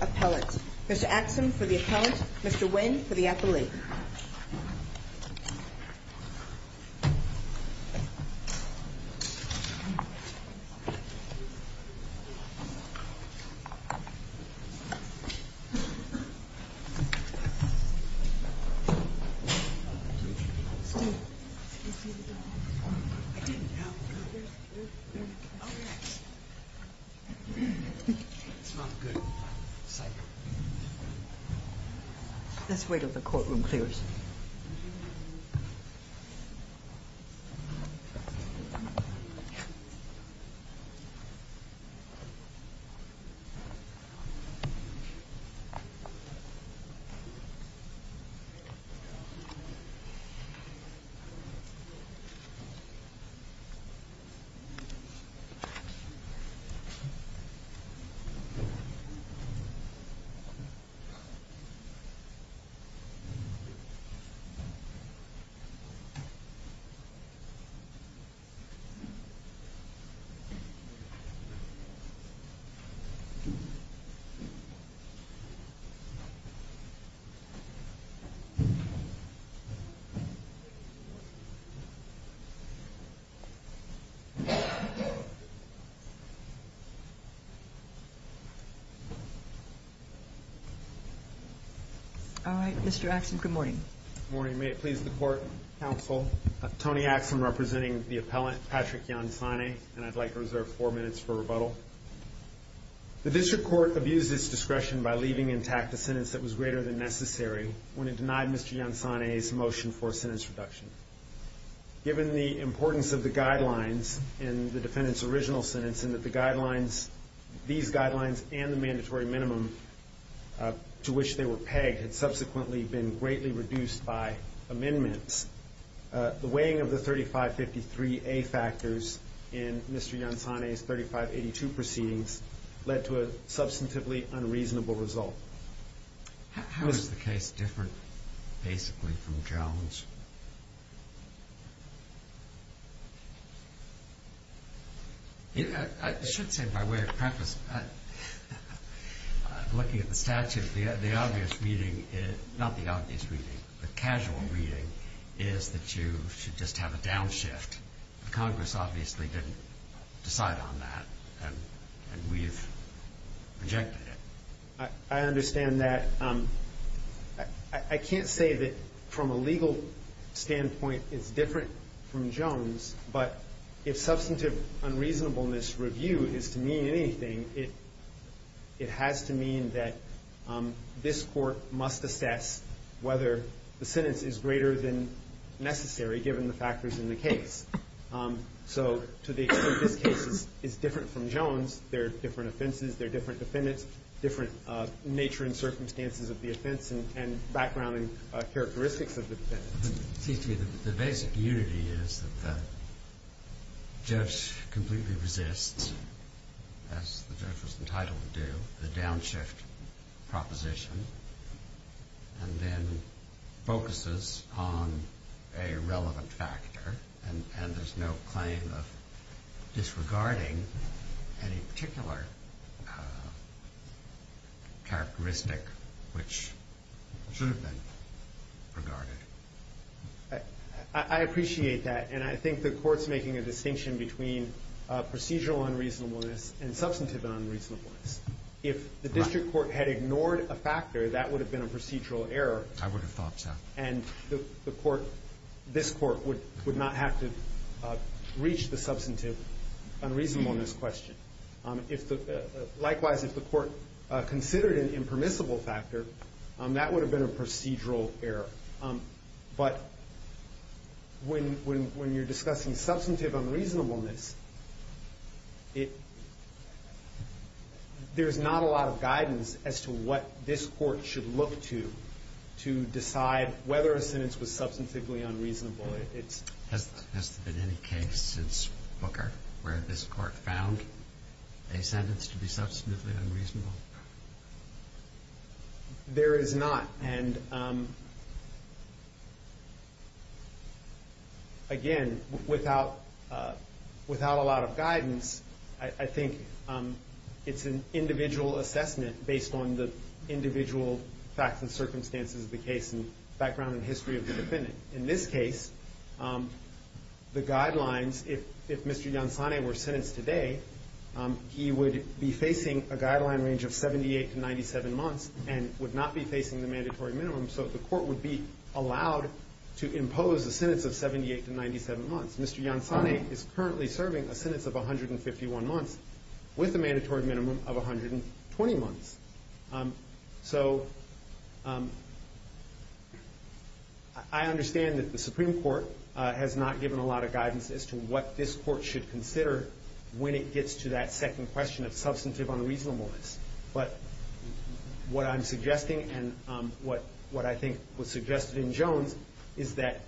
Appellant. Mr. Axsom for the Appellant. Mr. Nguyen for the Appellant. I didn't know. It's not good. Let's wait till the courtroom clears. Mr. Yancey for the Appellant. Mr. Nguyen for the Appellant. All right, Mr. Axsom, good morning. Good morning. May it please the Court, Counsel, Tony Axsom representing the Appellant, Patrick Yansane, and I'd like to reserve four minutes for rebuttal. The District Court abused its discretion by leaving intact a sentence that was greater than necessary when it denied Mr. Yansane's motion for sentence reduction. Given the importance of the guidelines in the defendant's original sentence and that the guidelines, these guidelines and the mandatory minimum to which they were pegged had subsequently been greatly reduced by amendments, the weighing of the 3553A factors in Mr. Yansane's 3582 proceedings led to a the case different basically from Jones? I should say by way of preface, looking at the statute, the obvious reading, not the obvious reading, the casual reading is that you should just have a downshift. Congress obviously didn't decide on that and we've rejected it. I understand that. I can't say that from a legal standpoint it's different from Jones, but if substantive unreasonableness review is to mean anything, it has to mean that this Court must assess whether the sentence is greater than necessary given the factors in the case. So to the extent this case is different from Jones, there are different offenses, there are different defendants, different nature and circumstances of the offense and background and characteristics of the defendants. It seems to me that the basic unity is that the judge completely resists, as the judge was entitled to do, the downshift proposition and then focuses on a relevant factor and there's no claim of disregarding any particular characteristic which should have been regarded. I appreciate that and I think the Court's making a distinction between procedural unreasonableness and substantive unreasonableness. If the District Court had ignored a factor, that would have been a procedural error and this Court would not have to reach the substantive unreasonableness question. Likewise, if the Court considered an impermissible factor, that would have been a procedural error. But when you're discussing substantive unreasonableness, there's not a lot of guidance as to what this Court should look to to decide whether a sentence was substantively unreasonable. Has there been any case since Booker where this Court found a sentence to be substantively unreasonable? There is not and again, without a lot of guidance, I think it's an individual assessment based on the individual facts and circumstances of the case and background and history of the defendant. In this case, the guidelines, if Mr. Yansane were sentenced today, he would be facing a guideline range of 78 to 97 months and would not be facing the mandatory minimum, so the Court would be allowed to impose a sentence of 78 to 97 months. Mr. Yansane is currently serving a sentence of 151 months with a mandatory minimum of 120 months. I understand that the Supreme Court has not given a lot of guidance as to what this Court should consider when it gets to that second question of substantive unreasonableness, but what I'm suggesting and what I think was suggested in Jones is that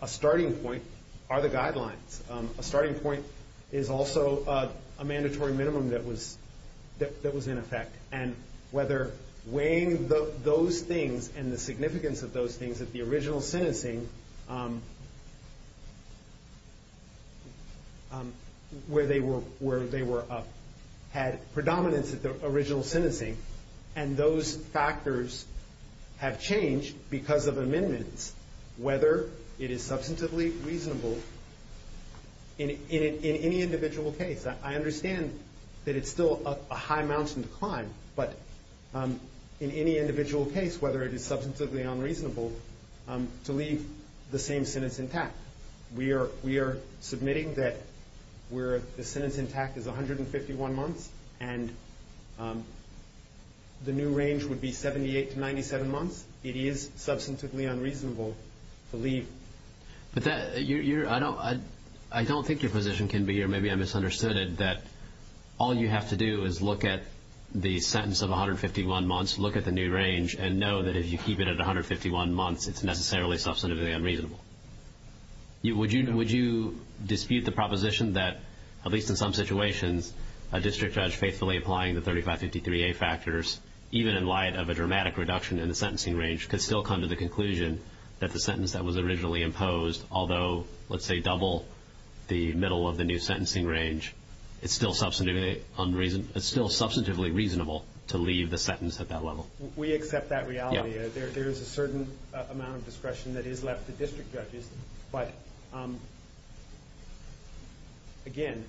a starting point are the guidelines. A starting point is also a mandatory minimum that was in effect and whether weighing those things and the significance of those things at the original sentencing where they had predominance at the original sentencing and those factors have changed because of amendments, whether it is substantively reasonable in any individual case. I understand that it's still a high mountain to climb, but in any individual case, whether it is substantively unreasonable to leave the same sentence intact. We are submitting that the sentence intact is 151 months and the new range would be 78 to 97 months. It is substantively unreasonable to leave. I don't think your position can be, or maybe I misunderstood it, that all you have to do is look at the sentence of 151 months, look at the new range, and know that if you keep it at 151 months, it's necessarily substantively unreasonable. Would you dispute the proposition that, at least in some situations, a district judge faithfully applying the 3553A factors, even in light of a dramatic reduction in the sentencing range, could still come to the conclusion that the sentence that was originally imposed, although, let's say, double the middle of the new sentencing range, it's still substantively reasonable to leave the sentence at that level? We accept that reality. There is a certain amount of discretion that is left to district judges, but again,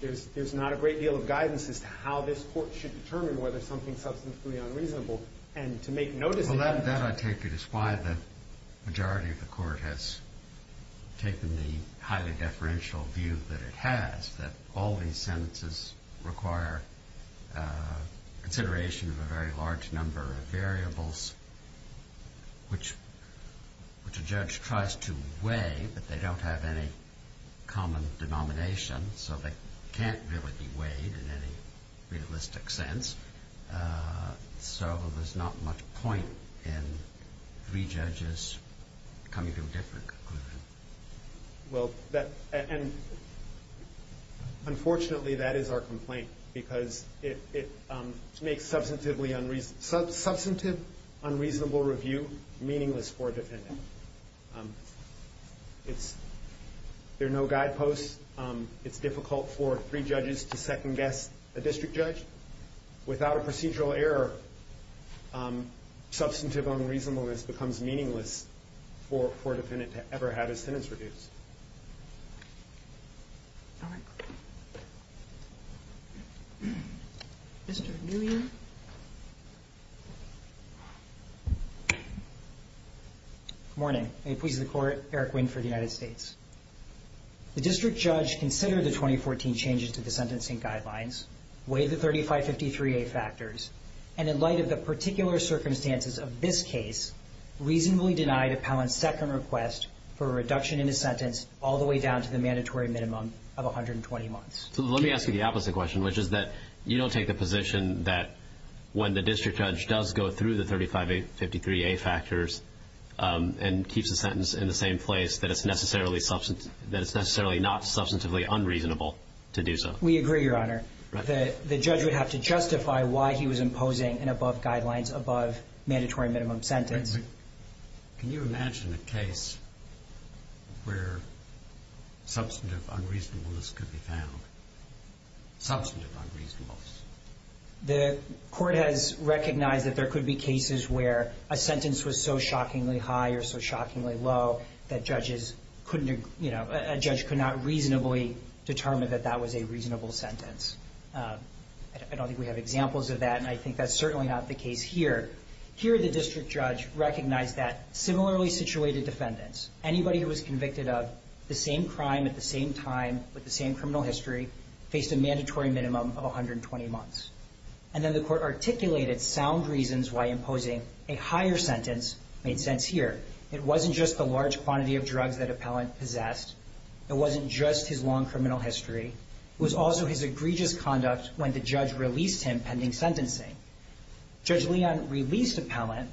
there's not a great deal of guidance as to how this court should determine whether something is substantively unreasonable. That, I take it, is why the majority of the court has taken the highly deferential view that it has, that all these sentences require consideration of a very large number of variables, which a judge tries to weigh, but they don't have any common denomination, so they can't really be weighed in any realistic sense. So there's not much point in three judges coming to a different conclusion. Well, and unfortunately, that is our complaint, because it makes substantive unreasonable review meaningless for a defendant. There are no guideposts. It's difficult for three judges to second-guess a district judge. Without a procedural error, substantive unreasonableness becomes meaningless for a defendant to ever have his sentence reduced. All right. Mr. Nguyen. Good morning. May it please the Court, Eric Nguyen for the United States. The district judge considered the 2014 changes to the sentencing guidelines, weighed the 3553A factors, and in light of the particular circumstances of this case, reasonably denied Appellant's second request for a reduction in his sentence all the way down to the mandatory minimum of 120 months. So let me ask you the opposite question, which is that you don't take the position that when the district judge does go through the 3553A factors and keeps the sentence in the same place, that it's necessarily not substantively unreasonable to do so. We agree, Your Honor. The judge would have to justify why he was imposing an above guidelines, above mandatory minimum sentence. Can you imagine a case where substantive unreasonableness could be found? Substantive unreasonableness. The Court has recognized that there could be cases where a sentence was so shockingly high or so shockingly low that judges couldn't, you know, a judge could not reasonably determine that that was a reasonable sentence. I don't think we have examples of that, and I think that's certainly not the case here. Here the district judge recognized that similarly situated defendants, anybody who was convicted of the same crime at the same time with the same criminal history, faced a mandatory minimum of 120 months. And then the Court articulated sound reasons why imposing a higher sentence made sense here. It wasn't just the large quantity of drugs that Appellant possessed. It wasn't just his long criminal history. It was also his egregious conduct when the judge released him pending sentencing. Judge Leon released Appellant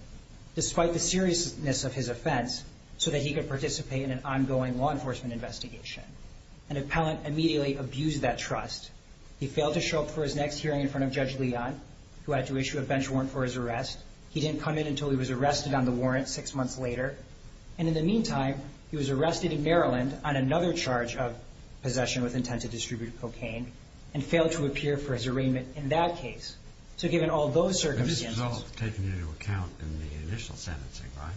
despite the seriousness of his offense so that he could participate in an ongoing law enforcement investigation. And Appellant immediately abused that trust. He failed to show up for his next hearing in front of Judge Leon, who had to issue a bench warrant for his arrest. He didn't come in until he was arrested on the warrant six months later. And in the meantime, he was arrested in Maryland on another charge of possession with intent to distribute cocaine and failed to appear for his arraignment in that case. So given all those circumstances... But this was all taken into account in the initial sentencing, right?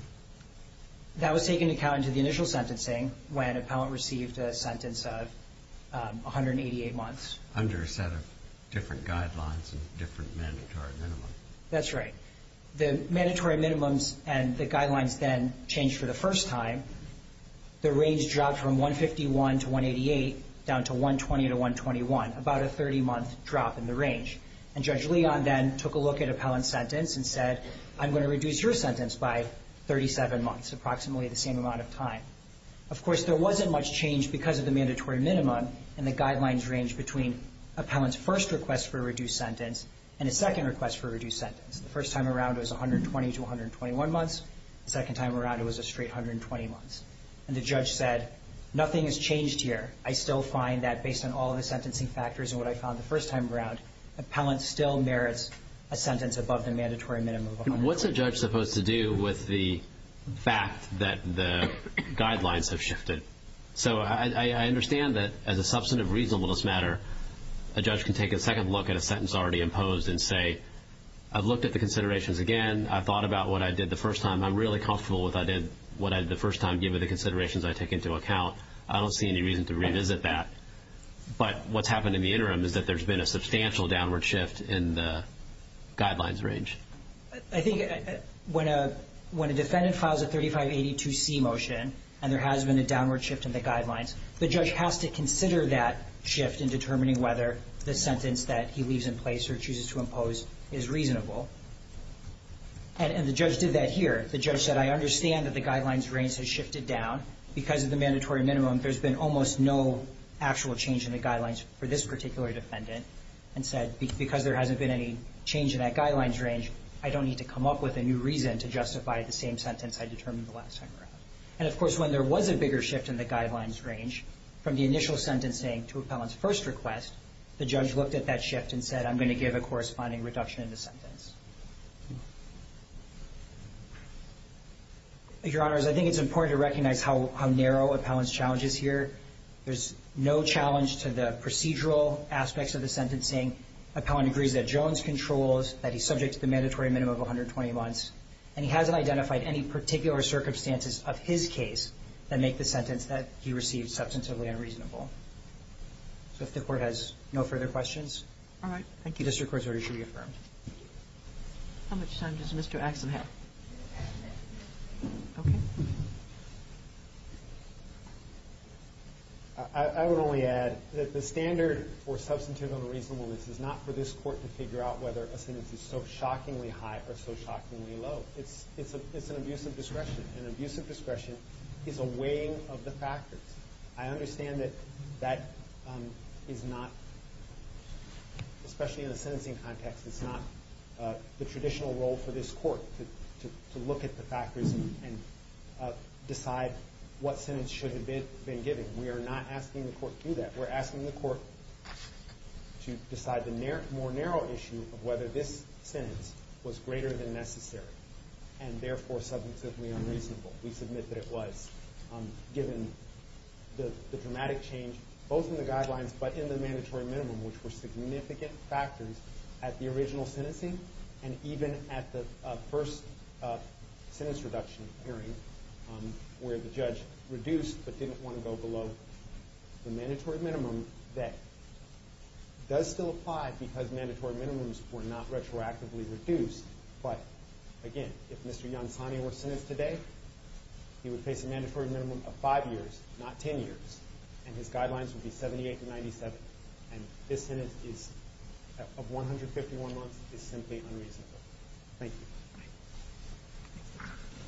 That was taken into account in the initial sentencing when Appellant received a sentence of 188 months. Under a set of different guidelines and different mandatory minimums. That's right. The mandatory minimums and the guidelines then changed for the first time. The range dropped from 151 to 188 down to 120 to 121, about a 30-month drop in the range. And Judge Leon then took a look at Appellant's sentence and said, I'm going to reduce your sentence by 37 months, approximately the same amount of time. Of course, there wasn't much change because of the mandatory minimum. And the guidelines ranged between Appellant's first request for a reduced sentence and his second request for a reduced sentence. The first time around, it was 120 to 121 months. The second time around, it was a straight 120 months. And the judge said, nothing has changed here. I still find that based on all the sentencing factors and what I found the first time around, Appellant still merits a sentence above the mandatory minimum. What's a judge supposed to do with the fact that the guidelines have shifted? So I understand that as a substantive reasonableness matter, a judge can take a second look at a sentence already imposed and say, I've looked at the considerations again. I've thought about what I did the first time. I'm really comfortable with what I did the first time, given the considerations I take into account. I don't see any reason to revisit that. But what's happened in the interim is that there's been a substantial downward shift in the guidelines range. I think when a defendant files a 3582C motion and there has been a downward shift in the guidelines, the judge has to consider that shift in determining whether the sentence that he leaves in place or chooses to impose is reasonable. And the judge did that here. The judge said, I understand that the guidelines range has shifted down. Because of the mandatory minimum, there's been almost no actual change in the guidelines for this particular defendant and said, because there hasn't been any change in that guidelines range, I don't need to come up with a new reason to justify the same sentence I determined the last time around. And, of course, when there was a bigger shift in the guidelines range, from the initial sentencing to appellant's first request, the judge looked at that shift and said, I'm going to give a corresponding reduction in the sentence. Your Honors, I think it's important to recognize how narrow appellant's challenge is here. There's no challenge to the procedural aspects of the sentencing. Appellant agrees that Jones controls, that he's subject to the mandatory minimum of 120 months, and he hasn't identified any particular circumstances of his case that make the sentence that he received substantively unreasonable. So if the Court has no further questions. All right. Thank you. District Court's order should be affirmed. How much time does Mr. Axon have? I would only add that the standard for substantively reasonableness is not for this Court to figure out whether a sentence is so shockingly high or so shockingly low. It's an abuse of discretion. And abuse of discretion is a weighing of the factors. I understand that that is not, especially in the sentencing context, it's not the traditional role for this Court to look at the factors and decide what sentence should have been given. We are not asking the Court to do that. We're asking the Court to decide the more narrow issue of whether this sentence was greater than necessary and therefore substantively unreasonable. We submit that it was. Given the dramatic change both in the guidelines but in the mandatory minimum, which were significant factors at the original sentencing and even at the first sentence reduction hearing where the judge reduced but didn't want to go below the mandatory minimum, that does still apply because mandatory minimums were not retroactively reduced. But, again, if Mr. Yansani were sentenced today, he would face a mandatory minimum of 5 years, not 10 years. And his guidelines would be 78 to 97. And this sentence of 151 months is simply unreasonable. Thank you.